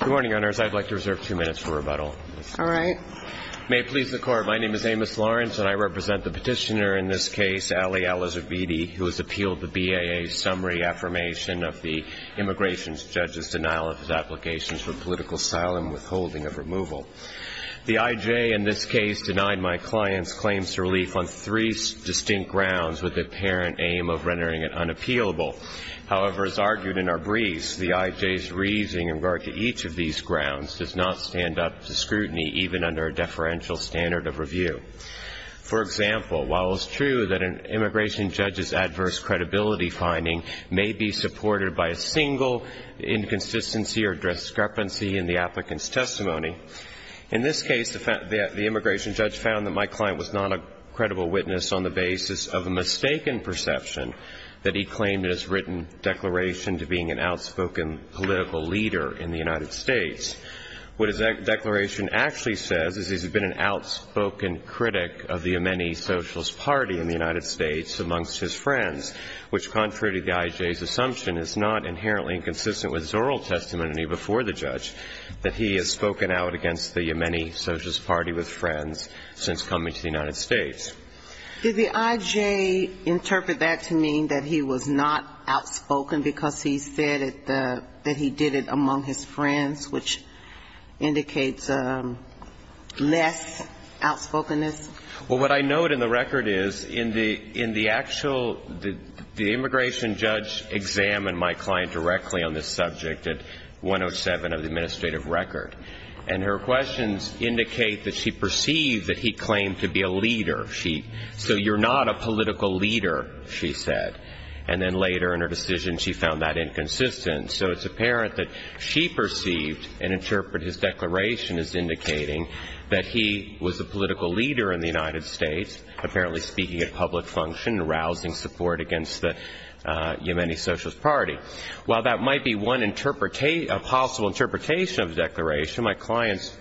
Good morning, Your Honors. I'd like to reserve two minutes for rebuttal. All right. May it please the Court, my name is Amos Lawrence, and I represent the petitioner in this case, Ali Al-Zubidi, who has appealed the BAA's summary affirmation of the immigration judge's denial of his applications for political asylum withholding of removal. The IJ in this case denied my client's claims to relief on three distinct grounds with the apparent aim of rendering it unappealable. However, as argued in our briefs, the IJ's reasoning in regard to each of these grounds does not stand up to scrutiny even under a deferential standard of review. For example, while it's true that an immigration judge's adverse credibility finding may be supported by a single inconsistency or discrepancy in the applicant's testimony, in this case the immigration judge found that my client was not a credible witness on the basis of a mistaken perception that he claimed in his written declaration to being an outspoken political leader in the United States. What his declaration actually says is he's been an outspoken critic of the Yemeni Socialist Party in the United States amongst his friends, which, contrary to the IJ's assumption, is not inherently inconsistent with his oral testimony before the judge that he has spoken out against the Yemeni Socialist Party with friends since coming to the United States. Did the IJ interpret that to mean that he was not outspoken because he said that he did it among his friends, which indicates less outspokenness? Well, what I note in the record is in the actual the immigration judge examined my client directly on this subject at 107 of the administrative record. And her questions indicate that she perceived that he claimed to be a leader. So you're not a political leader, she said. And then later in her decision she found that inconsistent. So it's apparent that she perceived and interpreted his declaration as indicating that he was a political leader in the United States, apparently speaking at public function and rousing support against the Yemeni Socialist Party. While that might be one possible interpretation of the declaration, my client's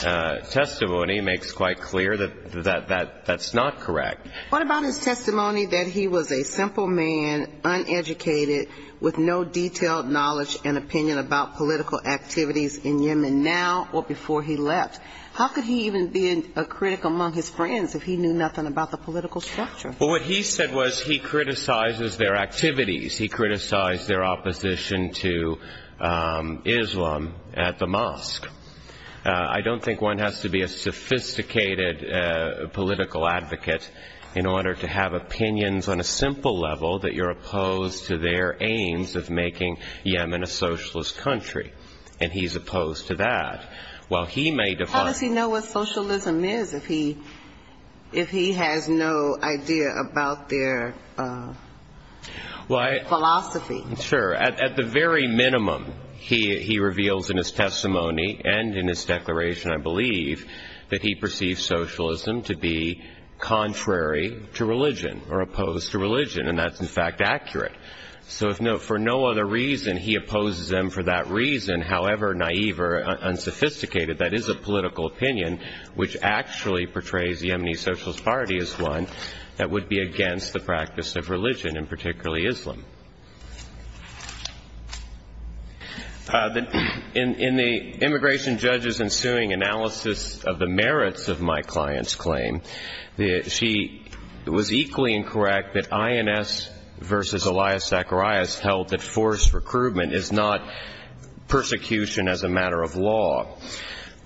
testimony makes quite clear that that's not correct. What about his testimony that he was a simple man, uneducated, with no detailed knowledge and opinion about political activities in Yemen now or before he left? How could he even be a critic among his friends if he knew nothing about the political structure? Well, what he said was he criticizes their activities. He criticized their opposition to Islam at the mosque. I don't think one has to be a sophisticated political advocate in order to have opinions on a simple level that you're opposed to their aims of making Yemen a socialist country. And he's opposed to that. How does he know what socialism is if he has no idea about their? Well, I. Philosophy. Sure. At the very minimum, he reveals in his testimony and in his declaration, I believe, that he perceives socialism to be contrary to religion or opposed to religion. And that's, in fact, accurate. So for no other reason, he opposes them for that reason. However naive or unsophisticated that is a political opinion, which actually portrays the Yemeni Socialist Party as one that would be against the practice of religion, and particularly Islam. In the immigration judge's ensuing analysis of the merits of my client's claim, she was equally incorrect that INS versus Elias Zacharias held that forced recruitment is not persecution as a matter of law.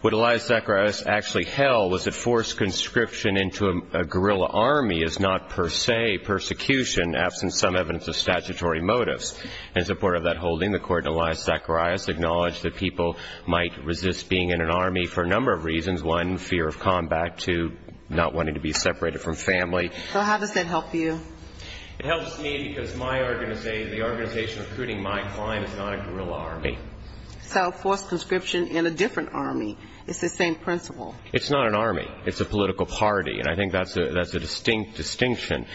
What Elias Zacharias actually held was that forced conscription into a guerrilla army is not per se persecution, absent some evidence of statutory motives. In support of that holding, the court in Elias Zacharias acknowledged that people might resist being in an army for a number of reasons. One, fear of combat. Two, not wanting to be separated from family. So how does that help you? It helps me because the organization recruiting my client is not a guerrilla army. It's how forced conscription in a different army. It's the same principle. It's not an army. It's a political party, and I think that's a distinct distinction.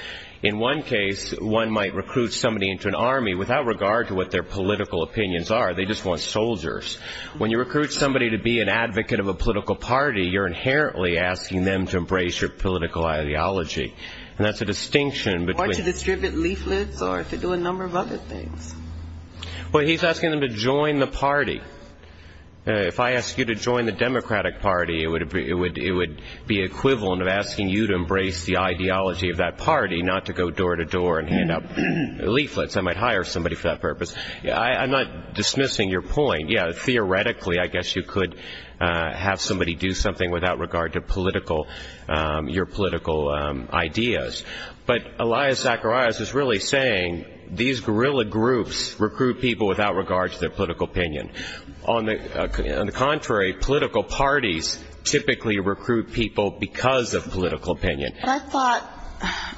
In one case, one might recruit somebody into an army without regard to what their political opinions are. They just want soldiers. When you recruit somebody to be an advocate of a political party, you're inherently asking them to embrace your political ideology, and that's a distinction. Or to distribute leaflets or to do a number of other things. Well, he's asking them to join the party. If I ask you to join the Democratic Party, it would be equivalent of asking you to embrace the ideology of that party, not to go door to door and hand out leaflets. I might hire somebody for that purpose. I'm not dismissing your point. Yeah, theoretically, I guess you could have somebody do something without regard to your political ideas. But Elias Zacharias is really saying these guerrilla groups recruit people without regard to their political opinion. On the contrary, political parties typically recruit people because of political opinion. But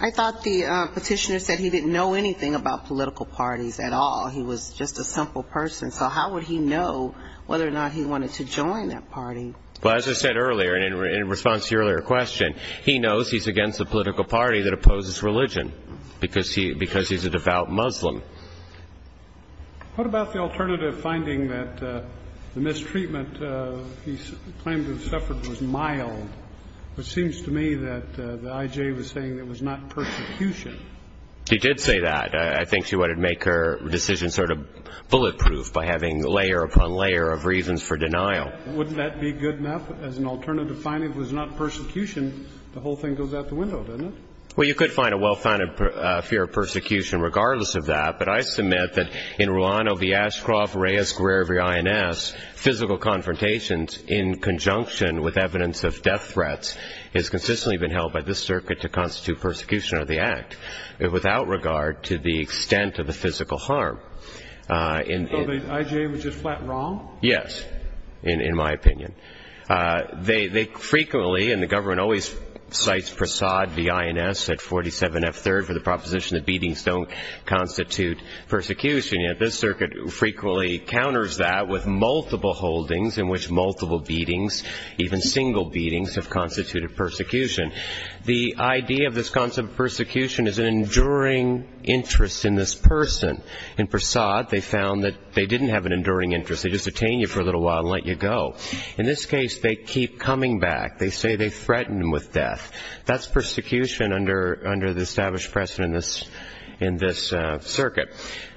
I thought the petitioner said he didn't know anything about political parties at all. He was just a simple person. So how would he know whether or not he wanted to join that party? Well, as I said earlier, in response to your earlier question, he knows he's against a political party that opposes religion because he's a devout Muslim. What about the alternative finding that the mistreatment he claimed to have suffered was mild? It seems to me that the IJ was saying it was not persecution. He did say that. I think she wanted to make her decision sort of bulletproof by having layer upon layer of reasons for denial. Wouldn't that be good enough as an alternative finding? If it was not persecution, the whole thing goes out the window, doesn't it? Well, you could find a well-founded fear of persecution regardless of that. But I submit that in Ruano v. Ashcroft, Reyes, Greer v. INS, physical confrontations in conjunction with evidence of death threats has consistently been held by this circuit to constitute persecution of the act without regard to the extent of the physical harm. So the IJ was just flat wrong? Yes, in my opinion. They frequently, and the government always cites Prasad v. INS at 47F3rd for the proposition that beatings don't constitute persecution. Yet this circuit frequently counters that with multiple holdings in which multiple beatings, even single beatings, have constituted persecution. The idea of this concept of persecution is an enduring interest in this person. In Prasad, they found that they didn't have an enduring interest. They just detain you for a little while and let you go. In this case, they keep coming back. They say they threatened him with death. That's persecution under the established precedent in this circuit.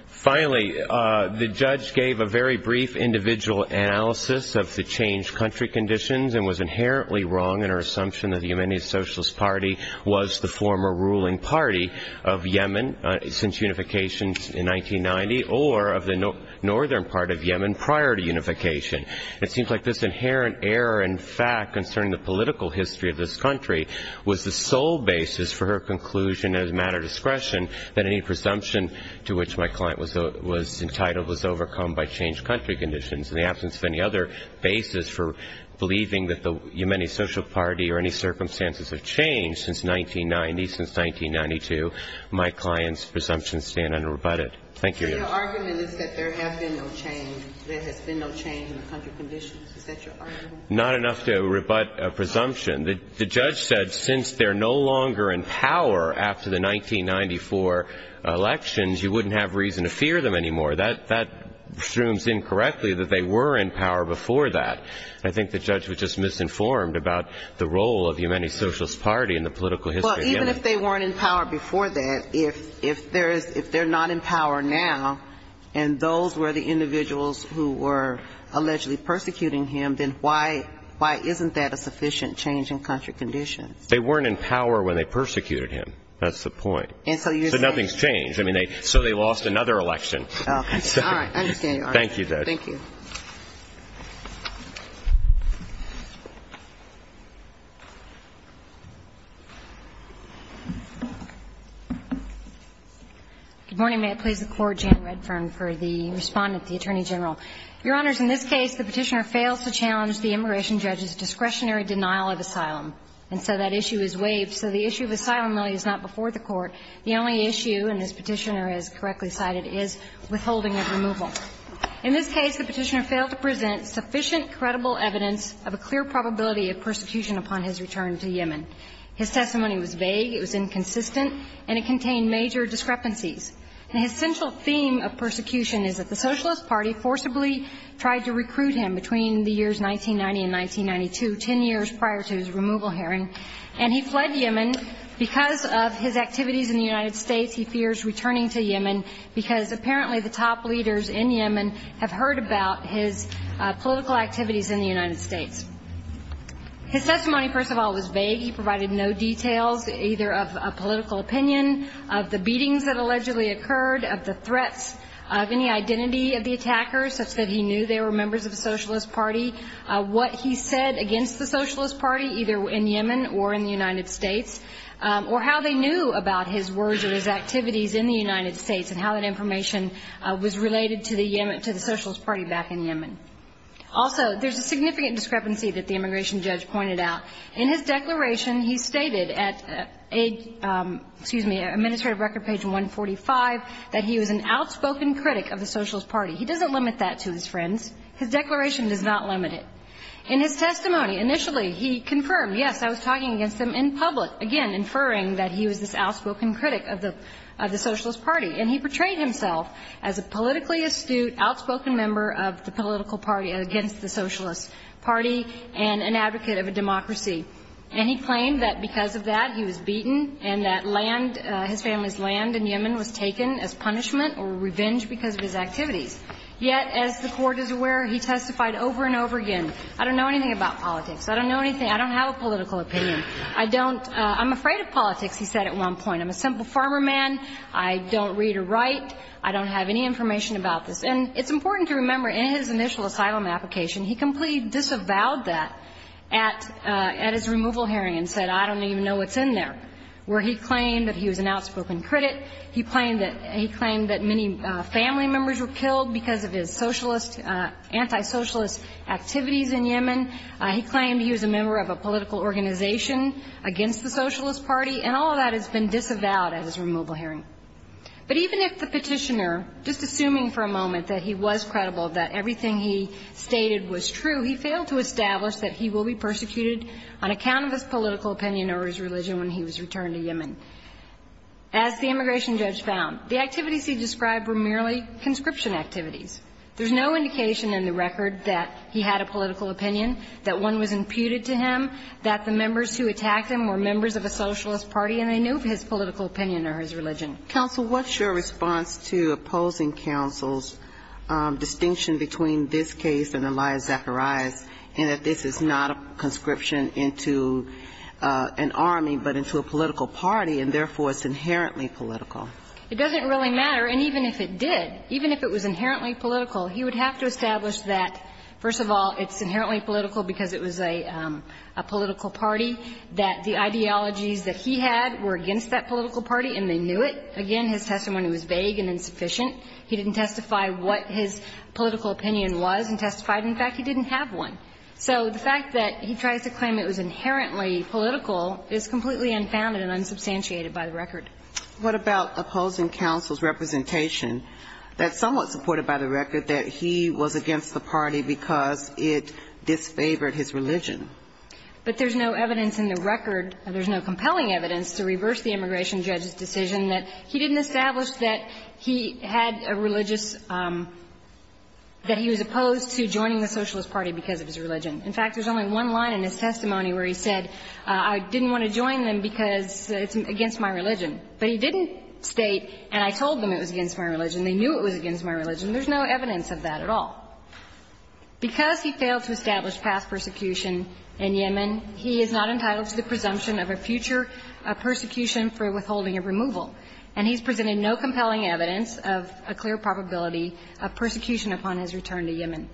Finally, the judge gave a very brief individual analysis of the changed country conditions and was inherently wrong in her assumption that the Yemeni Socialist Party was the former ruling party of Yemen since unification in 1990 or of the northern part of Yemen prior to unification. It seems like this inherent error in fact concerning the political history of this country was the sole basis for her conclusion as a matter of discretion that any presumption to which my client was entitled was overcome by changed country conditions. In the absence of any other basis for believing that the Yemeni Socialist Party or any circumstances have changed since 1990, since 1992, my client's presumptions stand unrebutted. Thank you. Your argument is that there have been no change. There has been no change in the country conditions. Is that your argument? Not enough to rebut a presumption. The judge said since they're no longer in power after the 1994 elections, you wouldn't have reason to fear them anymore. That assumes incorrectly that they were in power before that. I think the judge was just misinformed about the role of the Yemeni Socialist Party in the political history. Well, even if they weren't in power before that, if they're not in power now and those were the individuals who were allegedly persecuting him, then why isn't that a sufficient change in country conditions? They weren't in power when they persecuted him. That's the point. So nothing's changed. So they lost another election. All right. I understand your argument. Thank you, Judge. Thank you. Good morning. May it please the Court. Jan Redfern for the Respondent, the Attorney General. Your Honors, in this case, the Petitioner fails to challenge the immigration judge's discretionary denial of asylum. And so that issue is waived. So the issue of asylum, though, is not before the Court. The only issue, and this Petitioner is correctly cited, is withholding of removal. In this case, the Petitioner failed to present sufficient credible evidence of a clear probability of persecution upon his return to Yemen. His testimony was vague, it was inconsistent, and it contained major discrepancies. And his central theme of persecution is that the Socialist Party forcibly tried to recruit him between the years 1990 and 1992, 10 years prior to his removal hearing, and he fled Yemen because of his activities in the United States. He fears returning to Yemen because apparently the top leaders in Yemen have heard about his political activities in the United States. His testimony, first of all, was vague. He provided no details, either of a political opinion, of the beatings that allegedly occurred, of the threats of any identity of the attackers, such that he knew they were members of the Socialist Party, what he said against the Socialist Party, either in terms of his political activities in the United States and how that information was related to the Socialist Party back in Yemen. Also, there's a significant discrepancy that the immigration judge pointed out. In his declaration, he stated at, excuse me, administrative record page 145, that he was an outspoken critic of the Socialist Party. He doesn't limit that to his friends. His declaration does not limit it. In his testimony, initially, he confirmed, yes, I was talking against him in public, again, inferring that he was this outspoken critic of the Socialist Party. And he portrayed himself as a politically astute, outspoken member of the political party against the Socialist Party and an advocate of a democracy. And he claimed that because of that, he was beaten and that land, his family's land in Yemen was taken as punishment or revenge because of his activities. Yet, as the Court is aware, he testified over and over again, I don't know anything about politics. I don't know anything. I don't have a political opinion. I don't – I'm afraid of politics, he said at one point. I'm a simple farmer man. I don't read or write. I don't have any information about this. And it's important to remember, in his initial asylum application, he completely disavowed that at his removal hearing and said, I don't even know what's in there, where he claimed that he was an outspoken critic. He claimed that many family members were killed because of his socialist, antisocialist activities in Yemen. He claimed he was a member of a political organization against the Socialist Party. And all of that has been disavowed at his removal hearing. But even if the Petitioner, just assuming for a moment that he was credible that everything he stated was true, he failed to establish that he will be persecuted on account of his political opinion or his religion when he was returned to Yemen. As the immigration judge found, the activities he described were merely conscription activities. There's no indication in the record that he had a political opinion, that one was imputed to him, that the members who attacked him were members of a socialist party, and they knew of his political opinion or his religion. Ginsburg. Counsel, what's your response to opposing counsel's distinction between this case and Elia Zacharias, and that this is not a conscription into an army, but into a political party, and therefore, it's inherently political? It doesn't really matter. And even if it did, even if it was inherently political, he would have to establish that, first of all, it's inherently political because it was a political party, that the ideologies that he had were against that political party and they knew it. Again, his testimony was vague and insufficient. He didn't testify what his political opinion was and testified, in fact, he didn't have one. So the fact that he tries to claim it was inherently political is completely unfounded and unsubstantiated by the record. What about opposing counsel's representation that's somewhat supported by the record that he was against the party because it disfavored his religion? But there's no evidence in the record, there's no compelling evidence to reverse the immigration judge's decision that he didn't establish that he had a religious – that he was opposed to joining the socialist party because of his religion. In fact, there's only one line in his testimony where he said, I didn't want to join them because it's against my religion. But he didn't state, and I told them it was against my religion, they knew it was against my religion. There's no evidence of that at all. Because he failed to establish past persecution in Yemen, he is not entitled to the presumption of a future persecution for withholding of removal, and he's presented no compelling evidence of a clear probability of persecution upon his return to Yemen.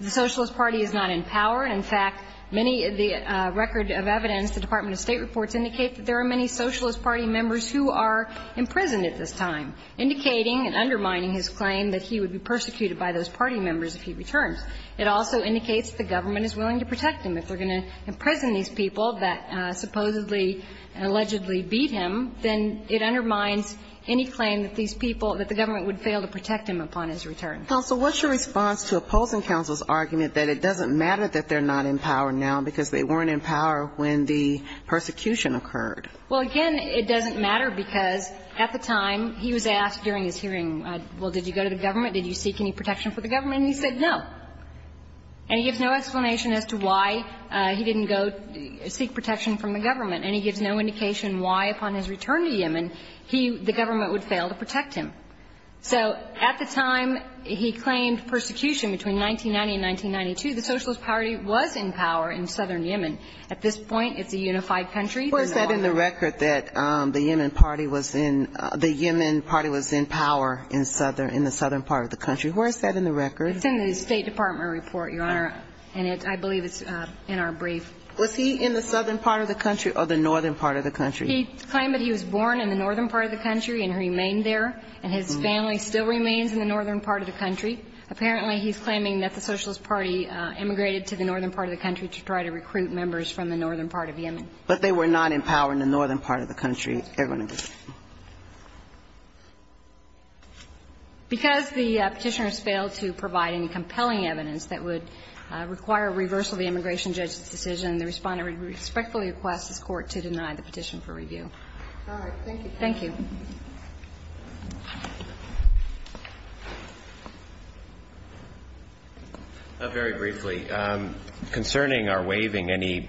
The socialist party is not in power. In fact, many of the record of evidence, the Department of State reports indicate that there are many socialist party members who are imprisoned at this time, indicating and undermining his claim that he would be persecuted by those party members if he returns. It also indicates the government is willing to protect him. If they're going to imprison these people that supposedly and allegedly beat him, then it undermines any claim that these people – that the government would fail to protect him upon his return. Sotomayor, what's your response to opposing counsel's argument that it doesn't matter that they're not in power now because they weren't in power when the persecution occurred? Well, again, it doesn't matter because at the time he was asked during his hearing, well, did you go to the government, did you seek any protection for the government, and he said no. And he gives no explanation as to why he didn't go seek protection from the government, and he gives no indication why upon his return to Yemen he – the government would fail to protect him. So at the time he claimed persecution between 1990 and 1992, the Socialist Party was in power in southern Yemen. At this point, it's a unified country. Where is that in the record that the Yemen party was in – the Yemen party was in power in southern – in the southern part of the country? Where is that in the record? It's in the State Department report, Your Honor, and I believe it's in our brief. Was he in the southern part of the country or the northern part of the country? He claimed that he was born in the northern part of the country and remained there, and his family still remains in the northern part of the country. Apparently, he's claiming that the Socialist Party immigrated to the northern part of the country to try to recruit members from the northern part of Yemen. But they were not in power in the northern part of the country, everyone agrees? Because the Petitioners failed to provide any compelling evidence that would require reversal of the immigration judge's decision, the Respondent would respectfully request this Court to deny the petition for review. All right. Thank you. Thank you. Very briefly, concerning our waiving any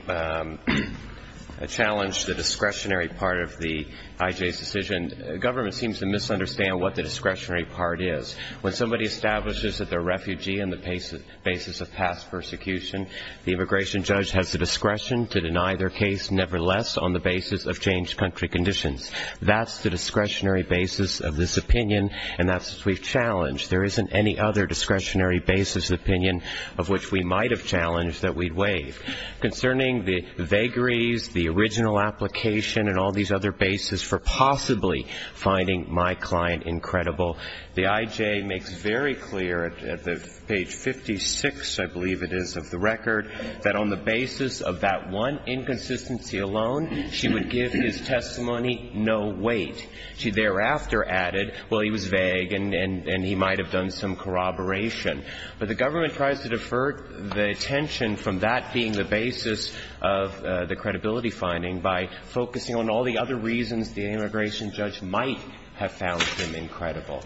challenge to the discretionary part of the IJ's decision, the government seems to misunderstand what the discretionary part is. When somebody establishes that they're a refugee on the basis of past persecution, the immigration judge has the discretion to deny their case, nevertheless on the basis of changed country conditions. That's the discretionary basis of this opinion, and that's what we've challenged. There isn't any other discretionary basis opinion of which we might have challenged that we'd waive. Concerning the vagaries, the original application, and all these other bases for possibly finding my client incredible, the IJ makes very clear at page 56, I believe it is, of the record, that on the basis of that one inconsistency alone, she would give his testimony no weight. She thereafter added, well, he was vague and he might have done some corroboration. But the government tries to defer the attention from that being the basis of the credibility finding by focusing on all the other reasons the immigration judge might have found him incredible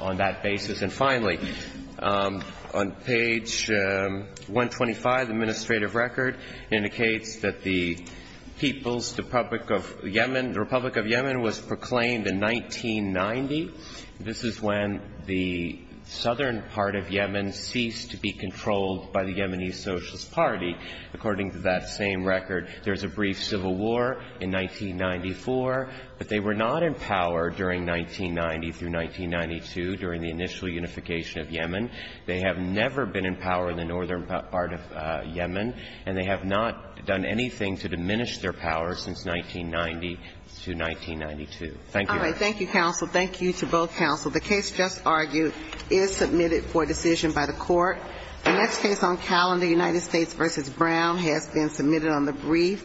on that basis. And finally, on page 125, the administrative record indicates that the People's Republic of Yemen, the Republic of Yemen was proclaimed in 1990. This is when the southern part of Yemen ceased to be controlled by the Yemeni Socialist Party. According to that same record, there's a brief civil war in 1994, but they were not in power during 1990 through 1992 during the initial unification of Yemen. They have never been in power in the northern part of Yemen, and they have not done anything to diminish their power since 1990 to 1992. Thank you, Your Honor. All right. Thank you, counsel. Thank you to both counsel. The case just argued is submitted for decision by the Court. The next case on calendar, United States v. Brown, has been submitted on the brief.